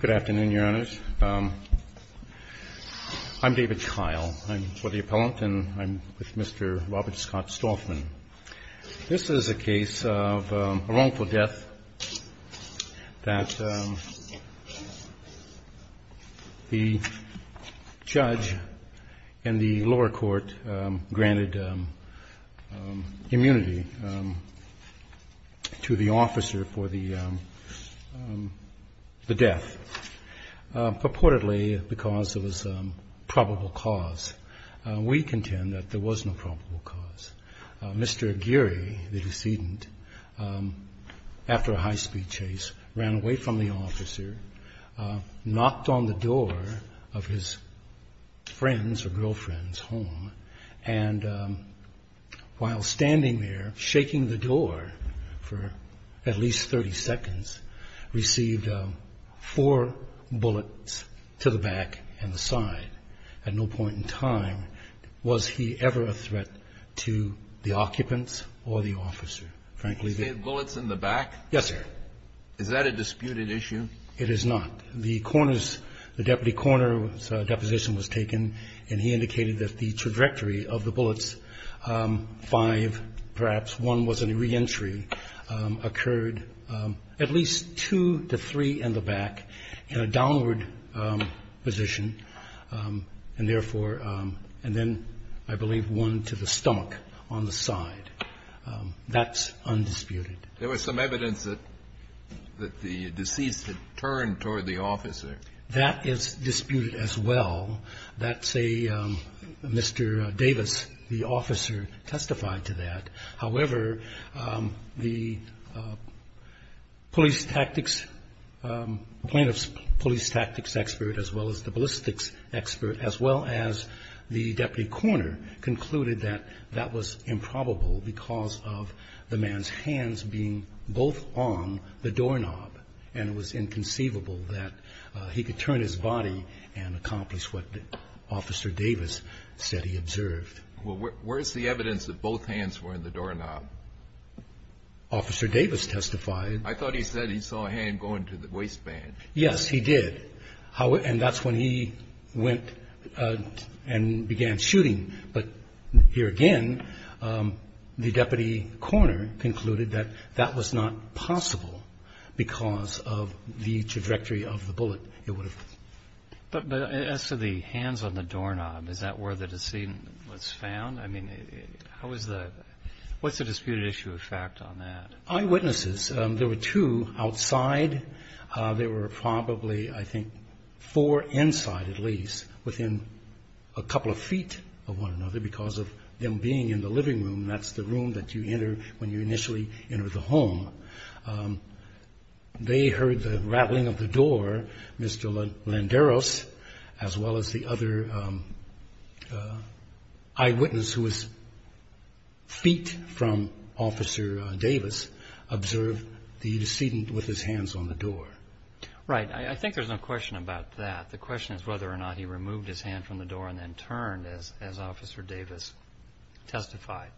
Good afternoon, Your Honors. I'm David Kyle. I'm for the appellant and I'm with Mr. Robert Scott Stauffman. This is a case of a wrongful death that the judge in the lower court granted immunity to the officer for the death, purportedly because there was probable cause. We contend that there was no probable cause. Mr. Aguirre, the decedent, after a high-speed chase, ran away from the officer, knocked on the door of his friend's or girlfriend's home, and while standing there, shaking the door for at least 30 seconds, received four bullets to the back and the side. At no point in time was he ever a threat to the occupants or the officer. Frankly, they... JUSTICE KENNEDY You say bullets in the back? MR. AGUIRRE Yes, sir. JUSTICE KENNEDY Is that a disputed issue? MR. AGUIRRE It is not. The coroner's, the deputy coroner's, deposition was taken and he indicated that the trajectory of the bullets, five, perhaps one was a reentry, occurred at least two to three in the back in a downward position, and therefore, and then, I believe, one to the stomach on the side. That's undisputed. JUSTICE KENNEDY There was some evidence that the deceased had turned toward the officer. MR. AGUIRRE That is disputed as well. That's a Mr. Davis, the officer, testified to that. However, the police tactics, plaintiff's police tactics expert as well as the ballistics expert as well as the deputy coroner concluded that that was improbable because of the man's hands being both on the doorknob and it was inconceivable that he could turn his body and accomplish what Officer Davis said he observed. JUSTICE KENNEDY Well, where's the evidence that both hands were in the doorknob? MR. AGUIRRE Officer Davis testified. JUSTICE KENNEDY I thought he said he saw a hand going to the waistband. MR. AGUIRRE Yes, he did. And that's when he went and began shooting. But here again, the deputy coroner concluded that that was not possible because of the trajectory of the bullet. JUSTICE KENNEDY But as to the hands on the doorknob, is that where the decedent was found? I mean, what's the disputed issue of fact on that? MR. AGUIRRE Eyewitnesses. There were two outside. There were probably, I think, four inside at least within a couple of feet of one another because of them being in the living room. That's the room that you enter when you initially enter the home. They heard the rattling of the door, Mr. Landeros, as well as the other eyewitness who was feet from Officer Davis observed the decedent with his hands on the door. JUSTICE KENNEDY Right. I think there's no question about that. The question is whether or not he removed his hand from the door and then turned as Officer Davis testified.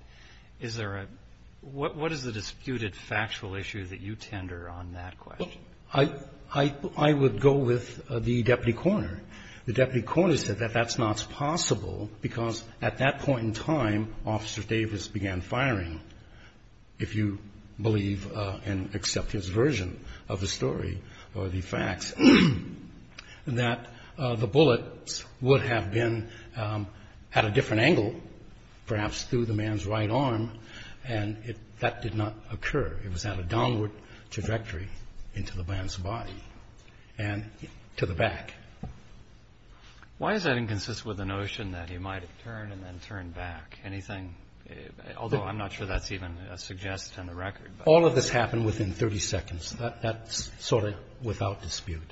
Is there a – what is the disputed factual issue that you tender on that question? MR. AGUIRRE I would go with the deputy coroner. The deputy coroner said that that's not possible because at that point in time, Officer Davis began firing, if you believe and accept his version of the story or the facts, that the bullets would have been at a different angle, perhaps through the man's right arm, and that did not occur. It was at a downward trajectory into the man's body and to the back. JUSTICE KENNEDY Why is that inconsistent with the notion that he might have turned and then turned back? Anything – although I'm not sure that's even suggested in the record. MR. AGUIRRE All of this happened within 30 seconds. That's sort of without dispute.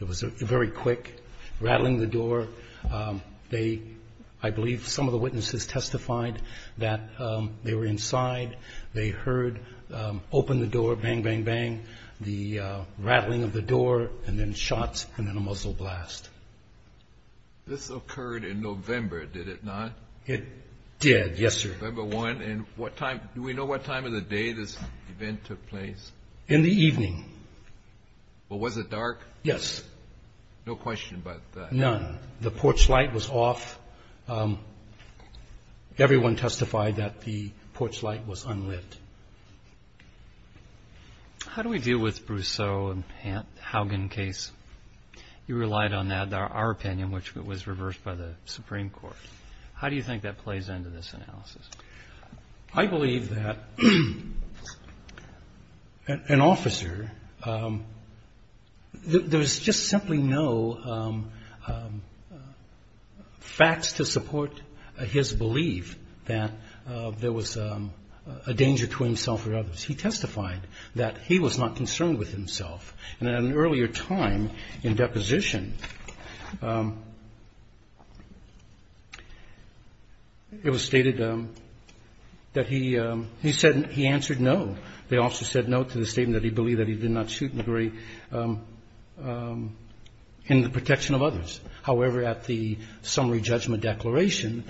It was very quick, rattling the door. They – I believe some of the witnesses testified that they were inside. They heard open the door, bang, bang, bang, the rattling of the door, and then shots and then a muzzle blast. JUSTICE KENNEDY This occurred in November, did it not? MR. AGUIRRE It did, yes, sir. JUSTICE KENNEDY November 1, and what time – do we know what time of the day this event took place? MR. AGUIRRE In the evening. JUSTICE KENNEDY Well, was it dark? MR. AGUIRRE Yes. JUSTICE KENNEDY No question about that. MR. AGUIRRE None. The porch light was off. Everyone testified that the porch light was unlit. JUSTICE KENNEDY How do we deal with Brousseau and Haugen case? You relied on our opinion, which was reversed by the Supreme Court. How do you think that plays into this analysis? MR. AGUIRRE I believe that an officer – there was just simply no facts to support his belief that there was a danger to himself or others. He testified that he was not concerned with himself. And at an earlier time in deposition, it was stated that he answered no. The officer said no to the statement that he believed that he did not shoot in the protection of others. However, at the summary judgment declaration,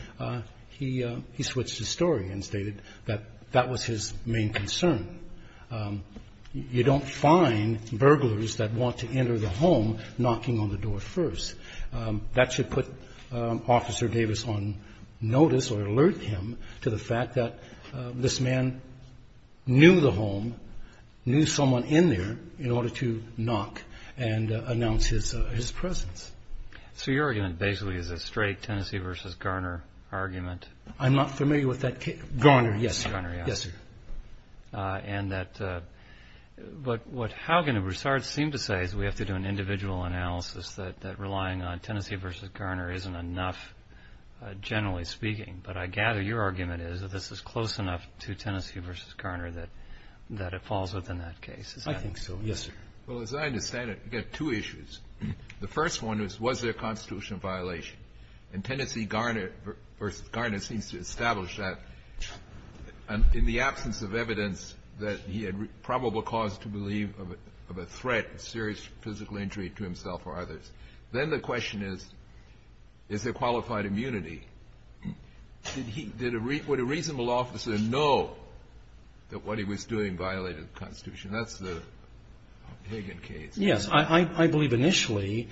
he switched his story and stated that that was his main concern. You don't find burglars that want to enter the home knocking on the door first. That should put Officer Davis on notice or alert him to the fact that this man knew the home, knew someone in there, in order to knock and announce his presence. JUSTICE KENNEDY So your argument basically is a straight Tennessee v. Garner argument? MR. AGUIRRE I'm not familiar with that case. Garner, yes, sir. JUSTICE KENNEDY Garner, yes. And that – but what Haugen and Broussard seem to say is we have to do an individual analysis that relying on Tennessee v. Garner isn't enough, generally speaking. But I gather your argument is that this is close enough to Tennessee v. Garner that it falls within that case. MR. AGUIRRE Yes, sir. JUSTICE KENNEDY Well, as I understand it, you've got two issues. The first one is, was there a constitutional violation? And Tennessee v. Garner seems to establish that in the absence of evidence that he had probable cause to believe of a threat, a serious physical injury to himself or others. Then the question is, is there qualified immunity? Would a reasonable officer know that what he was doing violated the Constitution? That's the Haugen case. MR. AGUIRRE Yes. I believe initially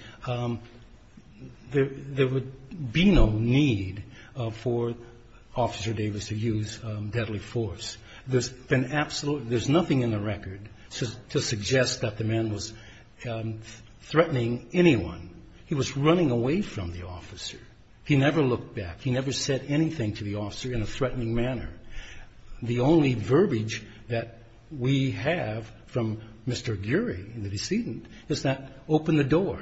there would be no need for Officer Davis to use deadly force. There's been absolute – there's nothing in the record to suggest that the man was threatening anyone. He was running away from the officer. He never looked back. He never said anything to the officer in a threatening manner. The only verbiage that we have from Mr. Aguirre, the decedent, is that, open the door.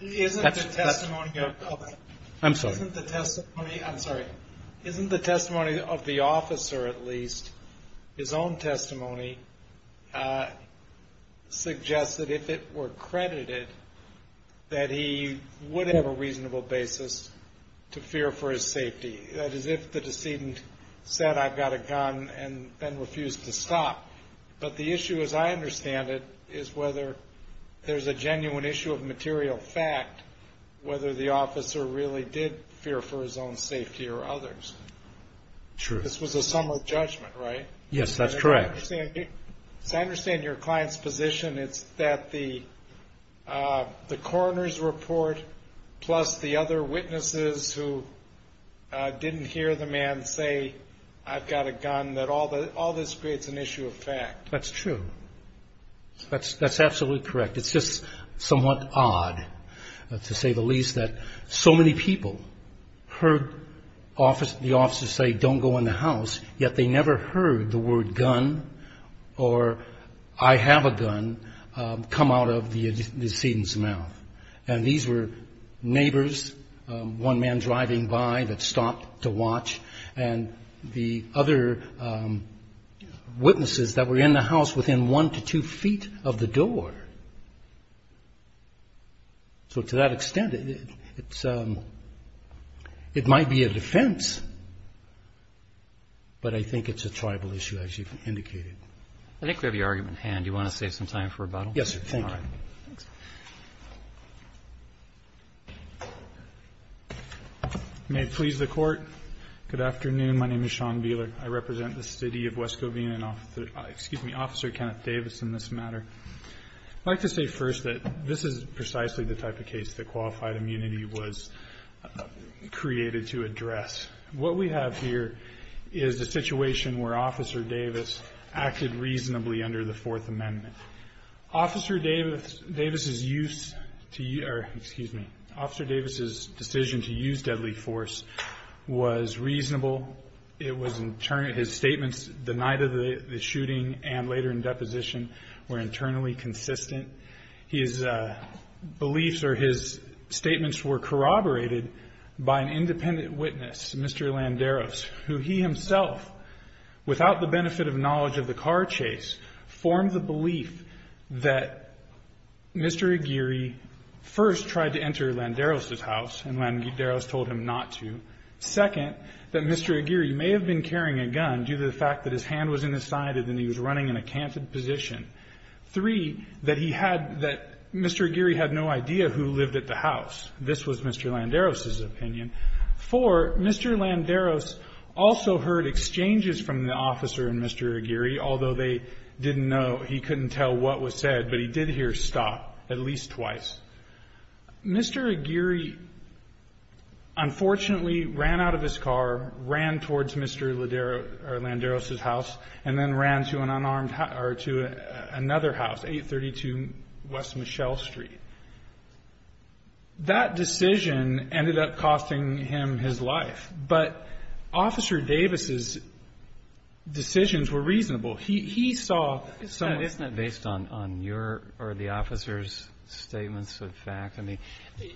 QUESTION Isn't the testimony of the – MR. AGUIRRE I'm sorry. QUESTION Isn't the testimony – I'm sorry. Isn't the testimony of the officer, at least, his own testimony, suggest that if it were credited that he would have a reasonable basis to fear for his safety? That is, if the decedent said, I've got a gun, and then refused to stop. But the issue, as I understand it, is whether there's a genuine issue of material fact, whether the officer really did fear for his own safety or others. MR. AGUIRRE True. QUESTION This was a summer judgment, right? MR. AGUIRRE Yes, that's correct. QUESTION As I understand your client's position, it's that the coroner's report, plus the other witnesses who didn't hear the man say, I've got a gun, that all this creates an issue of fact. MR. AGUIRRE That's true. That's absolutely correct. It's just somewhat odd, to say the least, that so many people heard the officer say, don't go in the house, yet they never heard the word gun or I have a gun come out of the decedent's mouth. And these were neighbors, one man driving by that stopped to watch, and the other witnesses that were in the house within one to two feet of the door. So to that extent, it might be a defense, but I think it's a tribal issue, as you've indicated. MR. RUBENSTEIN I think we have your argument at hand. Do you want to save some time for rebuttal? MR. AGUIRRE Yes, sir. MR. RUBENSTEIN Thank you. Thanks. May it please the Court. Good afternoon. My name is Sean Beeler. I represent the City of West Covina and Officer Kenneth Davis in this matter. I'd like to say first that this is precisely the type of case that qualified immunity was created to address. What we have here is a situation where Officer Davis acted reasonably under the Fourth Amendment. Officer Davis's decision to use deadly force was reasonable. His statements the night of the shooting and later in deposition were internally consistent. His beliefs or his statements were corroborated by an independent witness, Mr. Landeros, who he himself, without the benefit of knowledge of the car chase, formed the belief that Mr. Aguirre first tried to enter Landeros' house and Landeros told him not to. Second, that Mr. Aguirre may have been carrying a gun due to the fact that his hand was in his side and he was running in a canted position. Three, that he had that Mr. Aguirre had no idea who lived at the house. Four, Mr. Landeros also heard exchanges from the officer and Mr. Aguirre, although they didn't know, he couldn't tell what was said, but he did hear stop at least twice. Mr. Aguirre unfortunately ran out of his car, ran towards Mr. Landeros' house, and then ran to another house, 832 West Michelle Street. That decision ended up costing him his life. But Officer Davis' decisions were reasonable. He saw someone else. Isn't that based on your or the officer's statements of facts? I mean,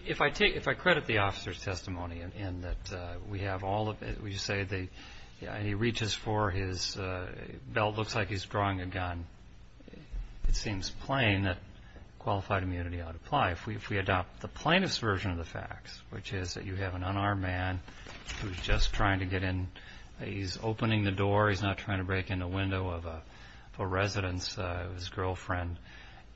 if I take the officer's testimony and that we have all of it, we just say that he reaches for his belt, looks like he's drawing a gun, it seems plain that qualified immunity ought to apply. If we adopt the plaintiff's version of the facts, which is that you have an unarmed man who's just trying to get in, he's opening the door, he's not trying to break in the window of a resident's girlfriend,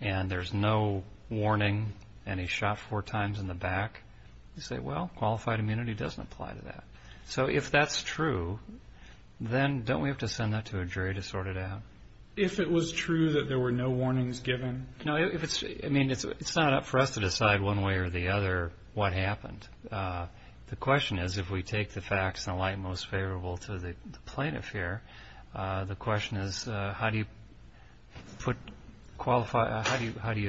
and there's no warning and he's shot four times in the back, you say, well, qualified immunity doesn't apply to that. So if that's true, then don't we have to send that to a jury to sort it out? If it was true that there were no warnings given? I mean, it's not up for us to decide one way or the other what happened. The question is if we take the facts in the light most favorable to the plaintiff here, the question is how do you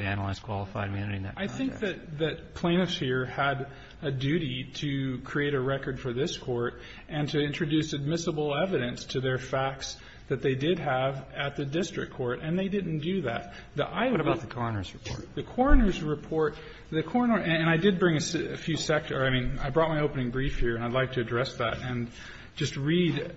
analyze qualified immunity in that context? I think that plaintiffs here had a duty to create a record for this court and to introduce admissible evidence to their facts that they did have at the district court, and they didn't do that. The idea of the coroner's report, the coroner's report, the coroner, and I did bring a few sector, I mean, I brought my opening brief here and I'd like to address that and just read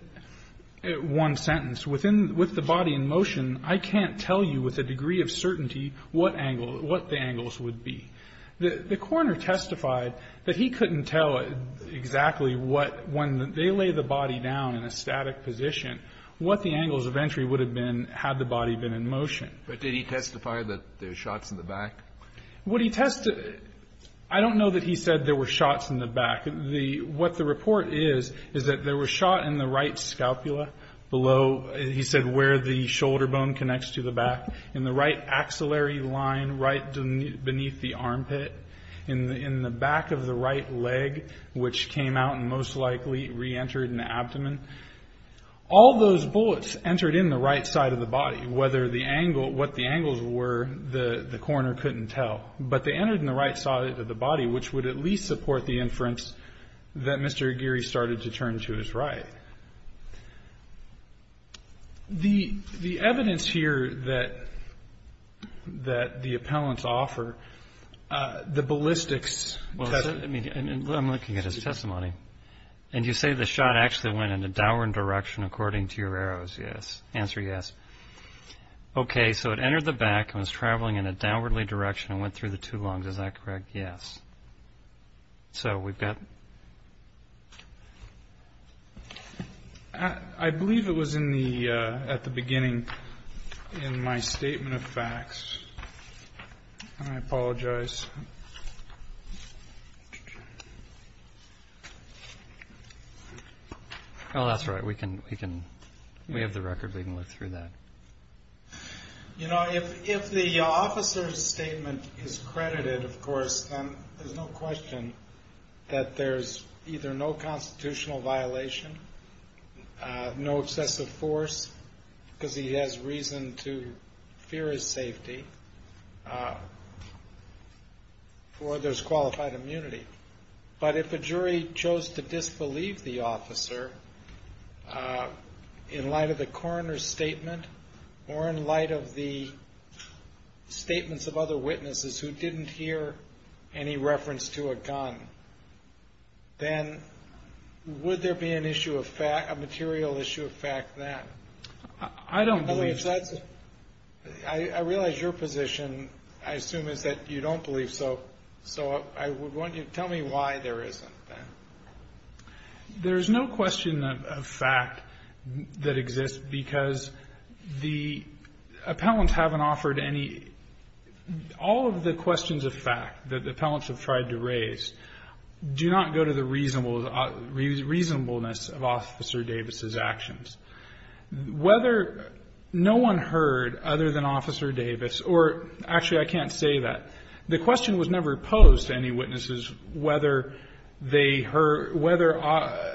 one sentence. Within, with the body in motion, I can't tell you with a degree of certainty what angle, what the angles would be. The coroner testified that he couldn't tell exactly what, when they lay the body down in a static position, what the angles of entry would have been had the body been in motion. But did he testify that there were shots in the back? What he testified, I don't know that he said there were shots in the back. The, what the report is, is that there were shot in the right scalpula below, he said where the shoulder bone connects to the back, in the right axillary line right beneath the armpit, in the back of the right leg, which came out and most likely reentered in the abdomen. All those bullets entered in the right side of the body. Whether the angle, what the angles were, the coroner couldn't tell. But they entered in the right side of the body, which would at least support the inference that Mr. Aguirre started to turn to his right. The, the evidence here that, that the appellants offer, the ballistics. Well, let me, I'm looking at his testimony. And you say the shot actually went in a downward direction according to your arrows, yes. Answer yes. Okay, so it entered the back and was traveling in a downwardly direction and went through the two lungs, is that correct? Yes. So we've got. I believe it was in the, at the beginning in my statement of facts. I apologize. Oh, that's right. We can, we can, we have the record. We can look through that. You know, if, if the officer's statement is credited, of course, then there's no question that there's either no constitutional violation, no excessive force, because he has reason to fear his safety, or there's qualified immunity. But if a jury chose to disbelieve the officer, in light of the coroner's statement, or in light of the statements of other witnesses who didn't hear any reference to a gun, then would there be an issue of fact, a material issue of fact then? I don't believe so. I realize your position, I assume, is that you don't believe so. So I would want you to tell me why there isn't then. There's no question of fact that exists, because the appellants haven't offered any, all of the questions of fact that the appellants have tried to raise do not go to the reasonableness of Officer Davis's actions. Whether no one heard other than Officer Davis, or actually I can't say that, the question was never posed to any witnesses whether they heard, whether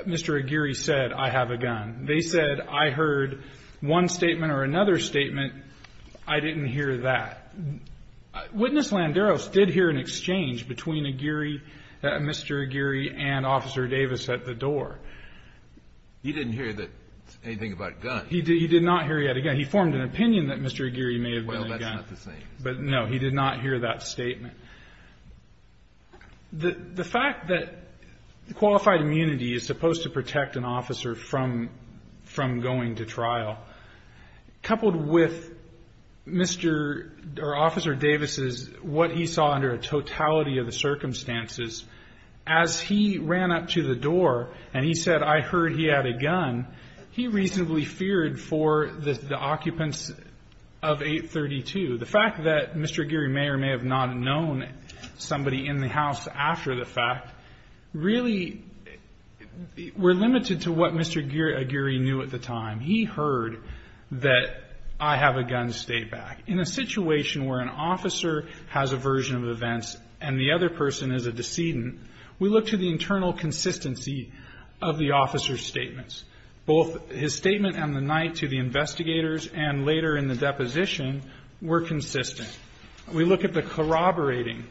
Mr. Aguirre said, I have a gun. They said, I heard one statement or another statement. I didn't hear that. Witness Landeros did hear an exchange between Aguirre, Mr. Aguirre and Officer Davis at the door. He didn't hear anything about a gun. He did not hear he had a gun. He formed an opinion that Mr. Aguirre may have been a gun. Well, that's not the same. But, no, he did not hear that statement. The fact that qualified immunity is supposed to protect an officer from going to trial, coupled with Mr. or Officer Davis's, what he saw under a totality of the circumstances, as he ran up to the door and he said, I heard he had a gun, he reasonably feared for the occupants of 832. The fact that Mr. Aguirre may or may have not known somebody in the house after the fact really were limited to what Mr. Aguirre knew at the time. He heard that, I have a gun, stay back. In a situation where an officer has a version of events and the other person is a decedent, we look to the internal consistency of the officer's statements. Both his statement on the night to the investigators and later in the deposition were consistent. We look at the corroborating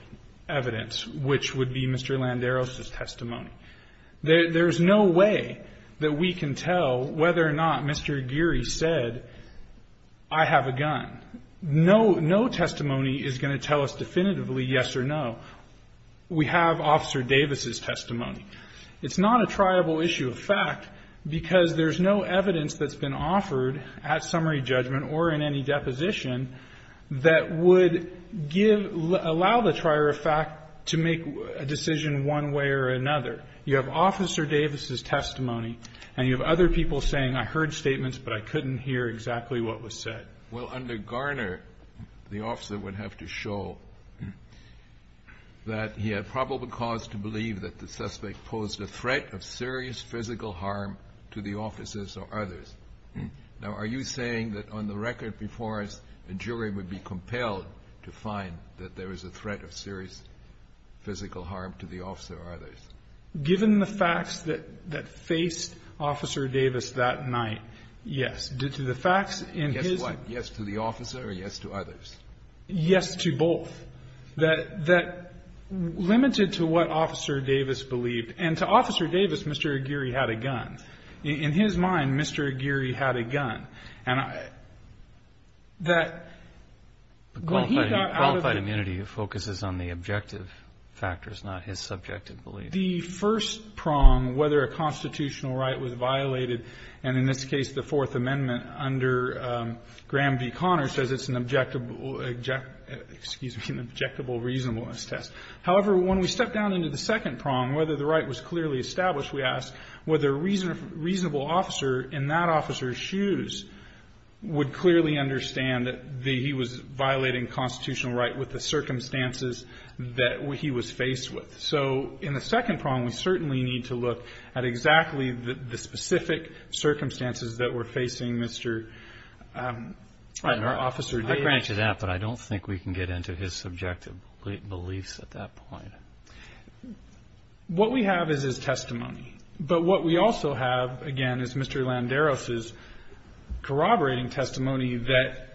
evidence, which would be Mr. Landeros's testimony. There's no way that we can tell whether or not Mr. Aguirre said, I have a gun. No testimony is going to tell us definitively yes or no. We have Officer Davis's testimony. It's not a triable issue of fact, because there's no evidence that's been offered at summary judgment or in any deposition that would give, allow the trier of fact to make a decision one way or another. You have Officer Davis's testimony, and you have other people saying, I heard statements, but I couldn't hear exactly what was said. Kennedy. Well, under Garner, the officer would have to show that he had probable cause to believe that the suspect posed a threat of serious physical harm to the officers or others. Now, are you saying that on the record before us, a jury would be compelled to find that there was a threat of serious physical harm to the officer or others? Given the facts that faced Officer Davis that night, yes. Due to the facts in his ---- Yes to what? Yes to the officer or yes to others? Yes to both. That limited to what Officer Davis believed. And to Officer Davis, Mr. Aguirre had a gun. In his mind, Mr. Aguirre had a gun. And that when he got out of the ---- Qualified immunity focuses on the objective factors, not his subjective belief. The first prong, whether a constitutional right was violated, and in this case, the Fourth Amendment under Graham v. Conner says it's an objectable, excuse me, an objectable reasonableness test. However, when we step down into the second prong, whether the right was clearly established, we ask whether a reasonable officer in that officer's shoes would clearly understand that he was violating constitutional right with the circumstances that he was faced with. So in the second prong, we certainly need to look at exactly the specific circumstances that were facing Mr. Officer Davis. I can answer that, but I don't think we can get into his subjective beliefs at that point. What we have is his testimony. But what we also have, again, is Mr. Landeros' corroborating testimony that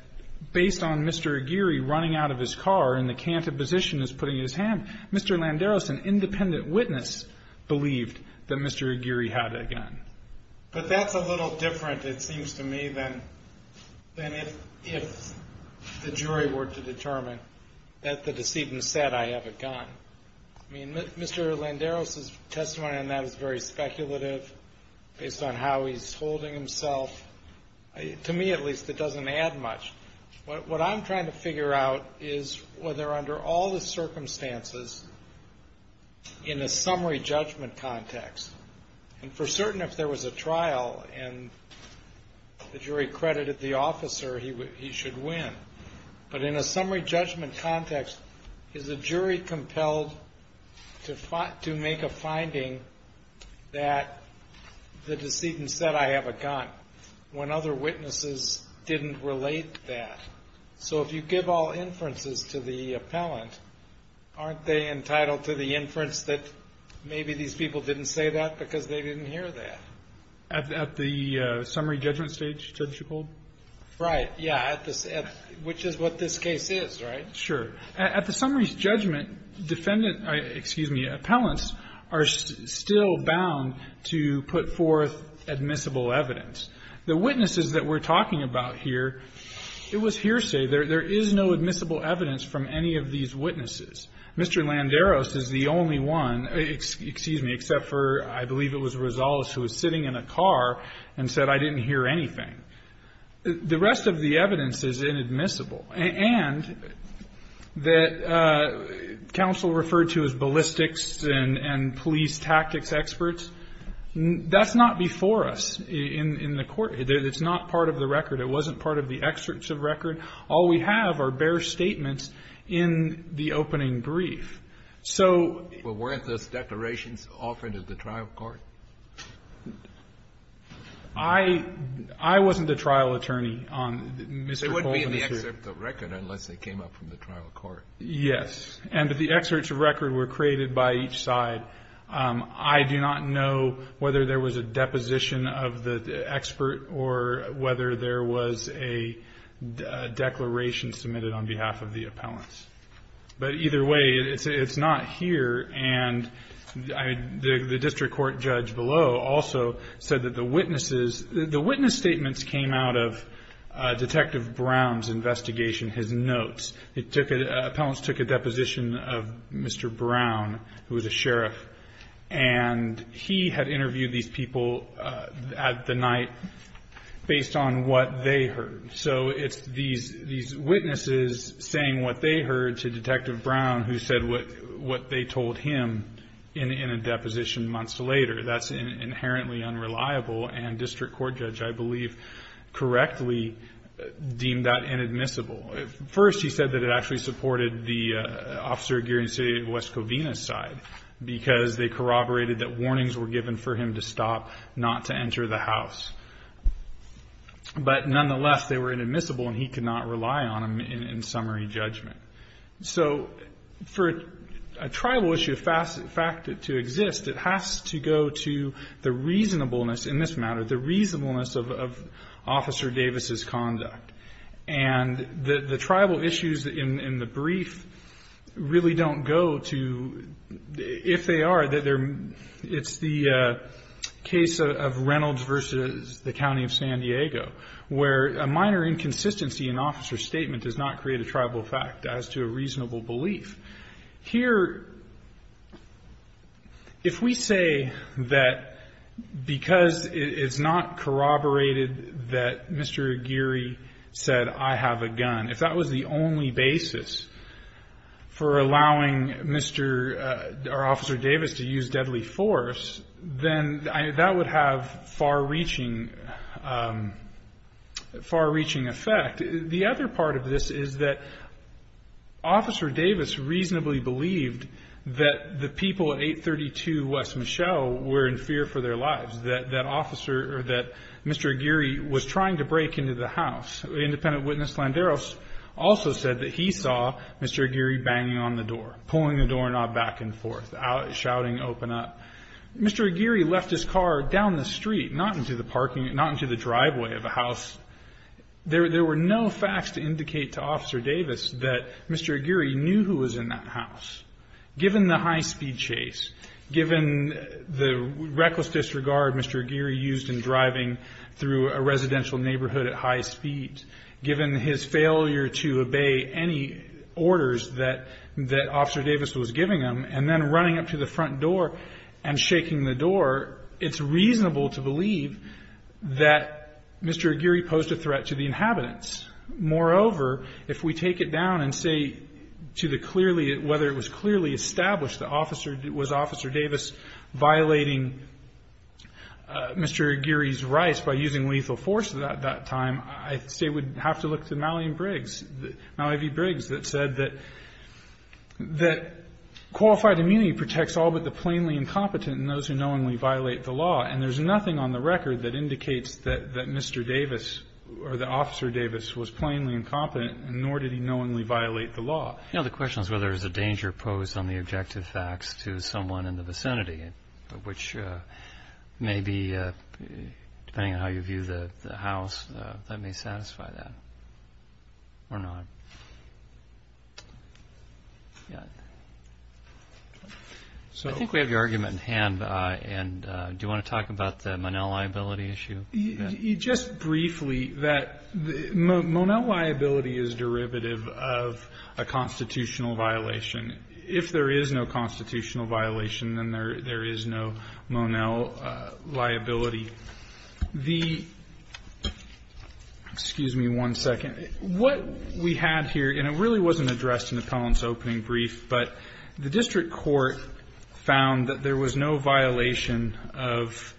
based on Mr. Aguirre running out of his car and the cantiposition as putting his hand, Mr. Landeros, an independent witness, believed that Mr. Aguirre had a gun. But that's a little different, it seems to me, than if the jury were to determine that the decedent said, I have a gun. I mean, Mr. Landeros' testimony on that is very speculative based on how he's holding himself. To me, at least, it doesn't add much. What I'm trying to figure out is whether under all the circumstances in a summary judgment context, and for certain if there was a trial and the jury credited the officer, he should win. But in a summary judgment context, is a jury compelled to make a finding that the decedent said, I have a gun, when other witnesses didn't relate that? So if you give all inferences to the appellant, aren't they entitled to the inference that maybe these people didn't say that because they didn't hear that? At the summary judgment stage, Judge Gold? Right. Yeah. Which is what this case is, right? Sure. At the summary judgment, defendant – excuse me, appellants are still bound to put forth admissible evidence. The witnesses that we're talking about here, it was hearsay. There is no admissible evidence from any of these witnesses. Mr. Landeros is the only one – excuse me, except for I believe it was Rosales who was sitting in a car and said, I didn't hear anything. The rest of the evidence is inadmissible. And that counsel referred to as ballistics and police tactics experts, that's not before us in the court. It's not part of the record. It wasn't part of the excerpts of record. All we have are bare statements in the opening brief. So – But weren't those declarations offered at the trial court? I wasn't a trial attorney on Mr. Colvin's case. They wouldn't be in the excerpt of record unless they came up from the trial court. Yes. And the excerpts of record were created by each side. I do not know whether there was a deposition of the expert or whether there was a declaration submitted on behalf of the appellants. But either way, it's not here. And the district court judge below also said that the witnesses – the witness statements came out of Detective Brown's investigation, his notes. Appellants took a deposition of Mr. Brown, who was a sheriff. And he had interviewed these people at the night based on what they heard. So it's these witnesses saying what they heard to Detective Brown, who said what they told him in a deposition months later. That's inherently unreliable. And district court judge, I believe, correctly deemed that inadmissible. First, he said that it actually supported the Officer Aguirre and City of West Covina's side because they corroborated that warnings were given for him to stop not to enter the house. But nonetheless, they were inadmissible, and he could not rely on them in summary judgment. So for a tribal issue of fact to exist, it has to go to the reasonableness in this matter, the reasonableness of Officer Davis's conduct. And the tribal issues in the brief really don't go to – if they are, it's the case of Reynolds v. the County of San Diego, where a minor inconsistency in Officer's statement does not create a tribal fact as to a reasonable belief. Here, if we say that because it's not corroborated that Mr. Aguirre said, I have a gun, if that was the only basis for allowing Mr. – or Officer Davis to use deadly force, then that would have far-reaching – far-reaching effect. In fact, the other part of this is that Officer Davis reasonably believed that the people at 832 West Michelle were in fear for their lives, that that officer or that Mr. Aguirre was trying to break into the house. Independent witness Landeros also said that he saw Mr. Aguirre banging on the door, pulling the doorknob back and forth, shouting, open up. Mr. Aguirre left his car down the street, not into the parking – not into the driveway of the house. There – there were no facts to indicate to Officer Davis that Mr. Aguirre knew who was in that house. Given the high-speed chase, given the reckless disregard Mr. Aguirre used in driving through a residential neighborhood at high speed, given his failure to obey any orders that – that Officer Davis was giving him, and then running up to the front door and shaking the door, it's reasonable to believe that Mr. Aguirre posed a threat to the inhabitants. Moreover, if we take it down and say to the clearly – whether it was clearly established that Officer – that it was Officer Davis violating Mr. Aguirre's rights by using lethal force at that time, I say we'd have to look to Malian Briggs – Malia V. Briggs that said that – that qualified immunity protects all but the plainly incompetent and those who knowingly violate the law. And there's nothing on the record that indicates that Mr. Davis – or that Officer Davis was plainly incompetent, nor did he knowingly violate the law. You know, the question is whether there's a danger posed on the objective facts to someone in the vicinity, which may be – depending on how you view the house, that may satisfy that. Or not. Yeah. So – I think we have your argument in hand, and do you want to talk about the Monel liability issue? Just briefly, that – Monel liability is derivative of a constitutional violation. If there is no constitutional violation, then there is no Monel liability. The – excuse me one second. What we had here, and it really wasn't addressed in the Collins opening brief, but the district court found that there was no violation of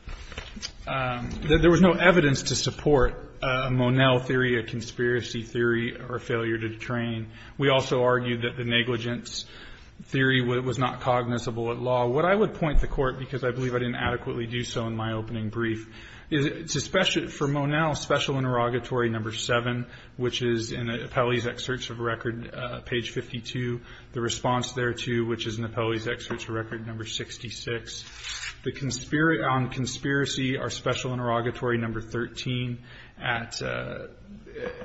– that there was no evidence to support a Monel theory, a conspiracy theory, or a failure to detrain. We also argued that the negligence theory was not cognizable at law. What I would point the Court, because I believe I didn't adequately do so in my opening brief, is for Monel, special interrogatory number 7, which is in the appellee's excerpts of record page 52, the response thereto, which is in the appellee's excerpts of record number 66. The – on conspiracy, our special interrogatory number 13 at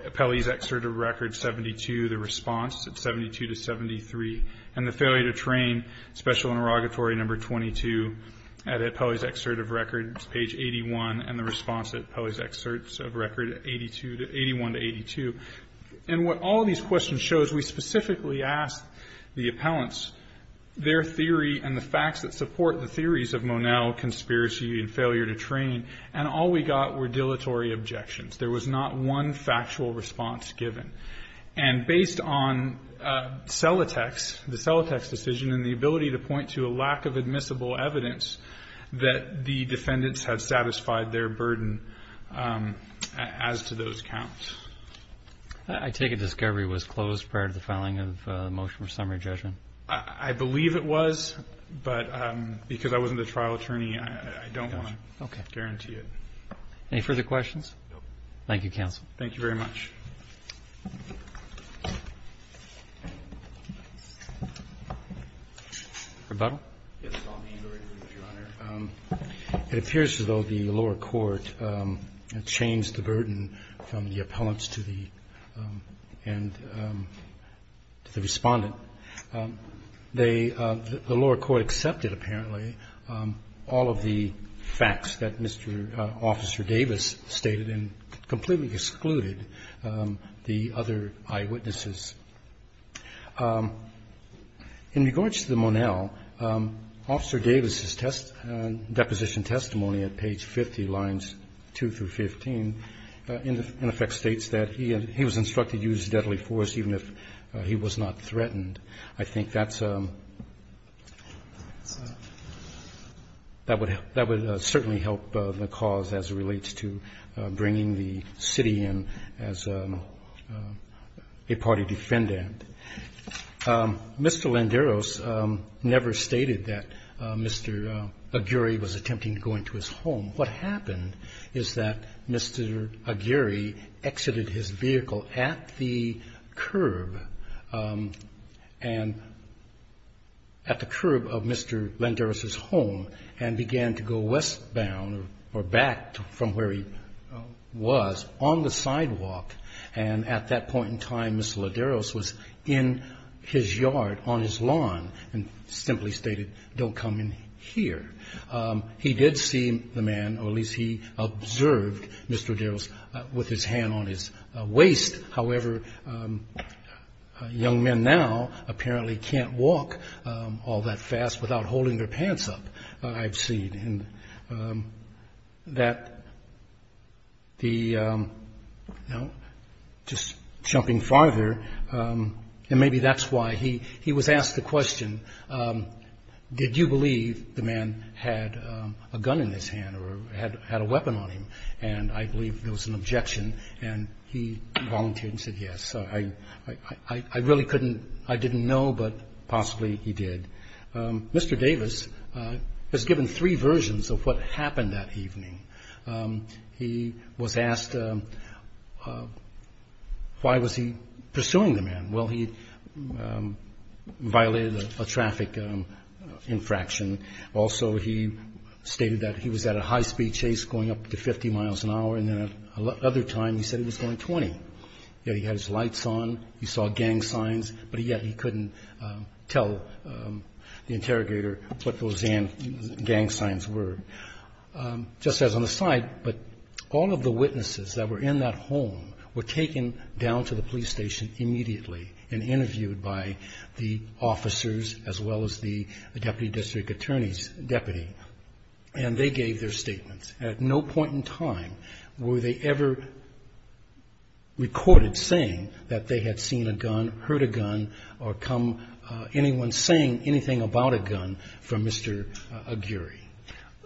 appellee's excerpt of record 72, the response at 72 to 73, and the failure to train, special interrogatory number 22 at appellee's excerpt of record page 81, and the response at appellee's excerpts of record 81 to 82. And what all these questions show is we specifically asked the appellants their theory and the facts that support the theories of Monel conspiracy and failure to train, and all we got were dilatory objections. There was not one factual response given. And based on Celotex, the Celotex decision and the ability to point to a lack of admissible evidence that the defendants had satisfied their burden as to those counts. I take it discovery was closed prior to the filing of the motion for summary judgment? I believe it was, but because I wasn't a trial attorney, I don't want to guarantee it. Any further questions? Thank you, counsel. Thank you very much. Mr. Buttle. Yes, Your Honor. It appears as though the lower court changed the burden from the appellants to the respondent. The lower court accepted, apparently, all of the facts that Mr. Officer Davis stated and completely excluded the other eyewitnesses. In regards to the Monel, Officer Davis' deposition testimony at page 50, lines 2 through 15, in effect states that he was instructed to use deadly force even if he was not threatened. I think that's a – that would certainly help the cause as it relates to bringing the city in as a party defendant. Mr. Landeros never stated that Mr. Aguirre was attempting to go into his home. What happened is that Mr. Aguirre exited his vehicle at the curb and – at the curb of Mr. Landeros' home and began to go westbound or back from where he was on the sidewalk, and at that point in time, Mr. Landeros was in his yard on his lawn and simply stated, don't come in here. He did see the man, or at least he observed Mr. Aguirre with his hand on his waist. However, young men now apparently can't walk all that fast without holding their pants up, I've seen. And that the – just jumping farther, and maybe that's why he was asked the question, did you believe the man had a gun in his hand or had a weapon on him? And I believe there was an objection, and he volunteered and said yes. I really couldn't – I didn't know, but possibly he did. Mr. Davis was given three versions of what happened that evening. He was asked why was he pursuing the man. Well, he violated a traffic infraction. Also, he stated that he was at a high-speed chase going up to 50 miles an hour, and then at another time he said he was going 20. He had his lights on, he saw gang signs, but yet he couldn't tell the interrogator what those gang signs were. Just as an aside, but all of the witnesses that were in that home were taken down to the police station immediately and interviewed by the officers, as well as the deputy district attorney's deputy. And they gave their statements. At no point in time were they ever recorded saying that they had seen a gun, heard a gun, or come anyone saying anything about a gun from Mr. Aguirre.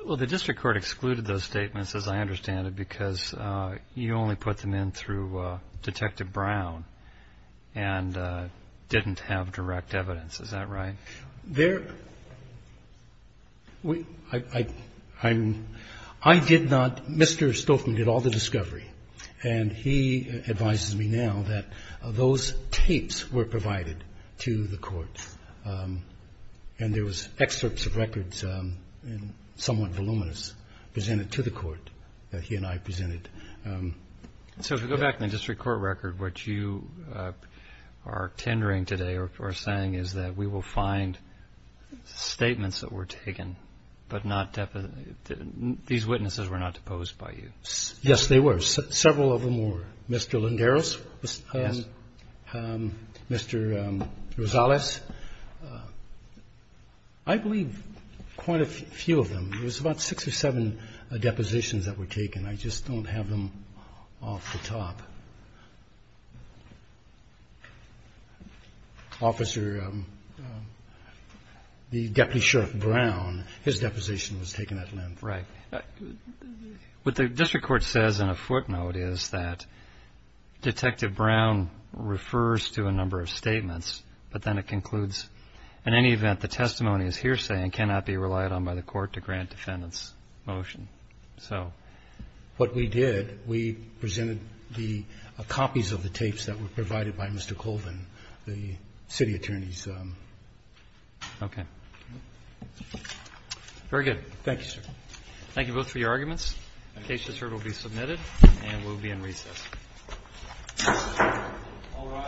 Well, the district court excluded those statements, as I understand it, because you only put them in through Detective Brown and didn't have direct evidence. Is that right? I did not. Mr. Stolfman did all the discovery, and he advises me now that those tapes were provided to the courts, and there was excerpts of records, somewhat voluminous, presented to the court that he and I presented. So if we go back to the district court record, what you are tendering today or saying is that we will find statements that were taken, but these witnesses were not deposed by you. Yes, they were. Several of them were. Mr. Linderos and Mr. Rosales. I believe quite a few of them. There was about six or seven depositions that were taken. I just don't have them off the top. Officer, the Deputy Sheriff Brown, his deposition was taken at length. Right. What the district court says in a footnote is that Detective Brown refers to a number of statements, but then it concludes, in any event, the testimony is hearsay and cannot be relied on by the court to grant defendants' motion. So what we did, we presented the copies of the tapes that were provided by Mr. Colvin, the city attorney's. Okay. Very good. Thank you, sir. Thank you both for your arguments. The case is heard, will be submitted, and we'll be in recess. All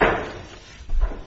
rise.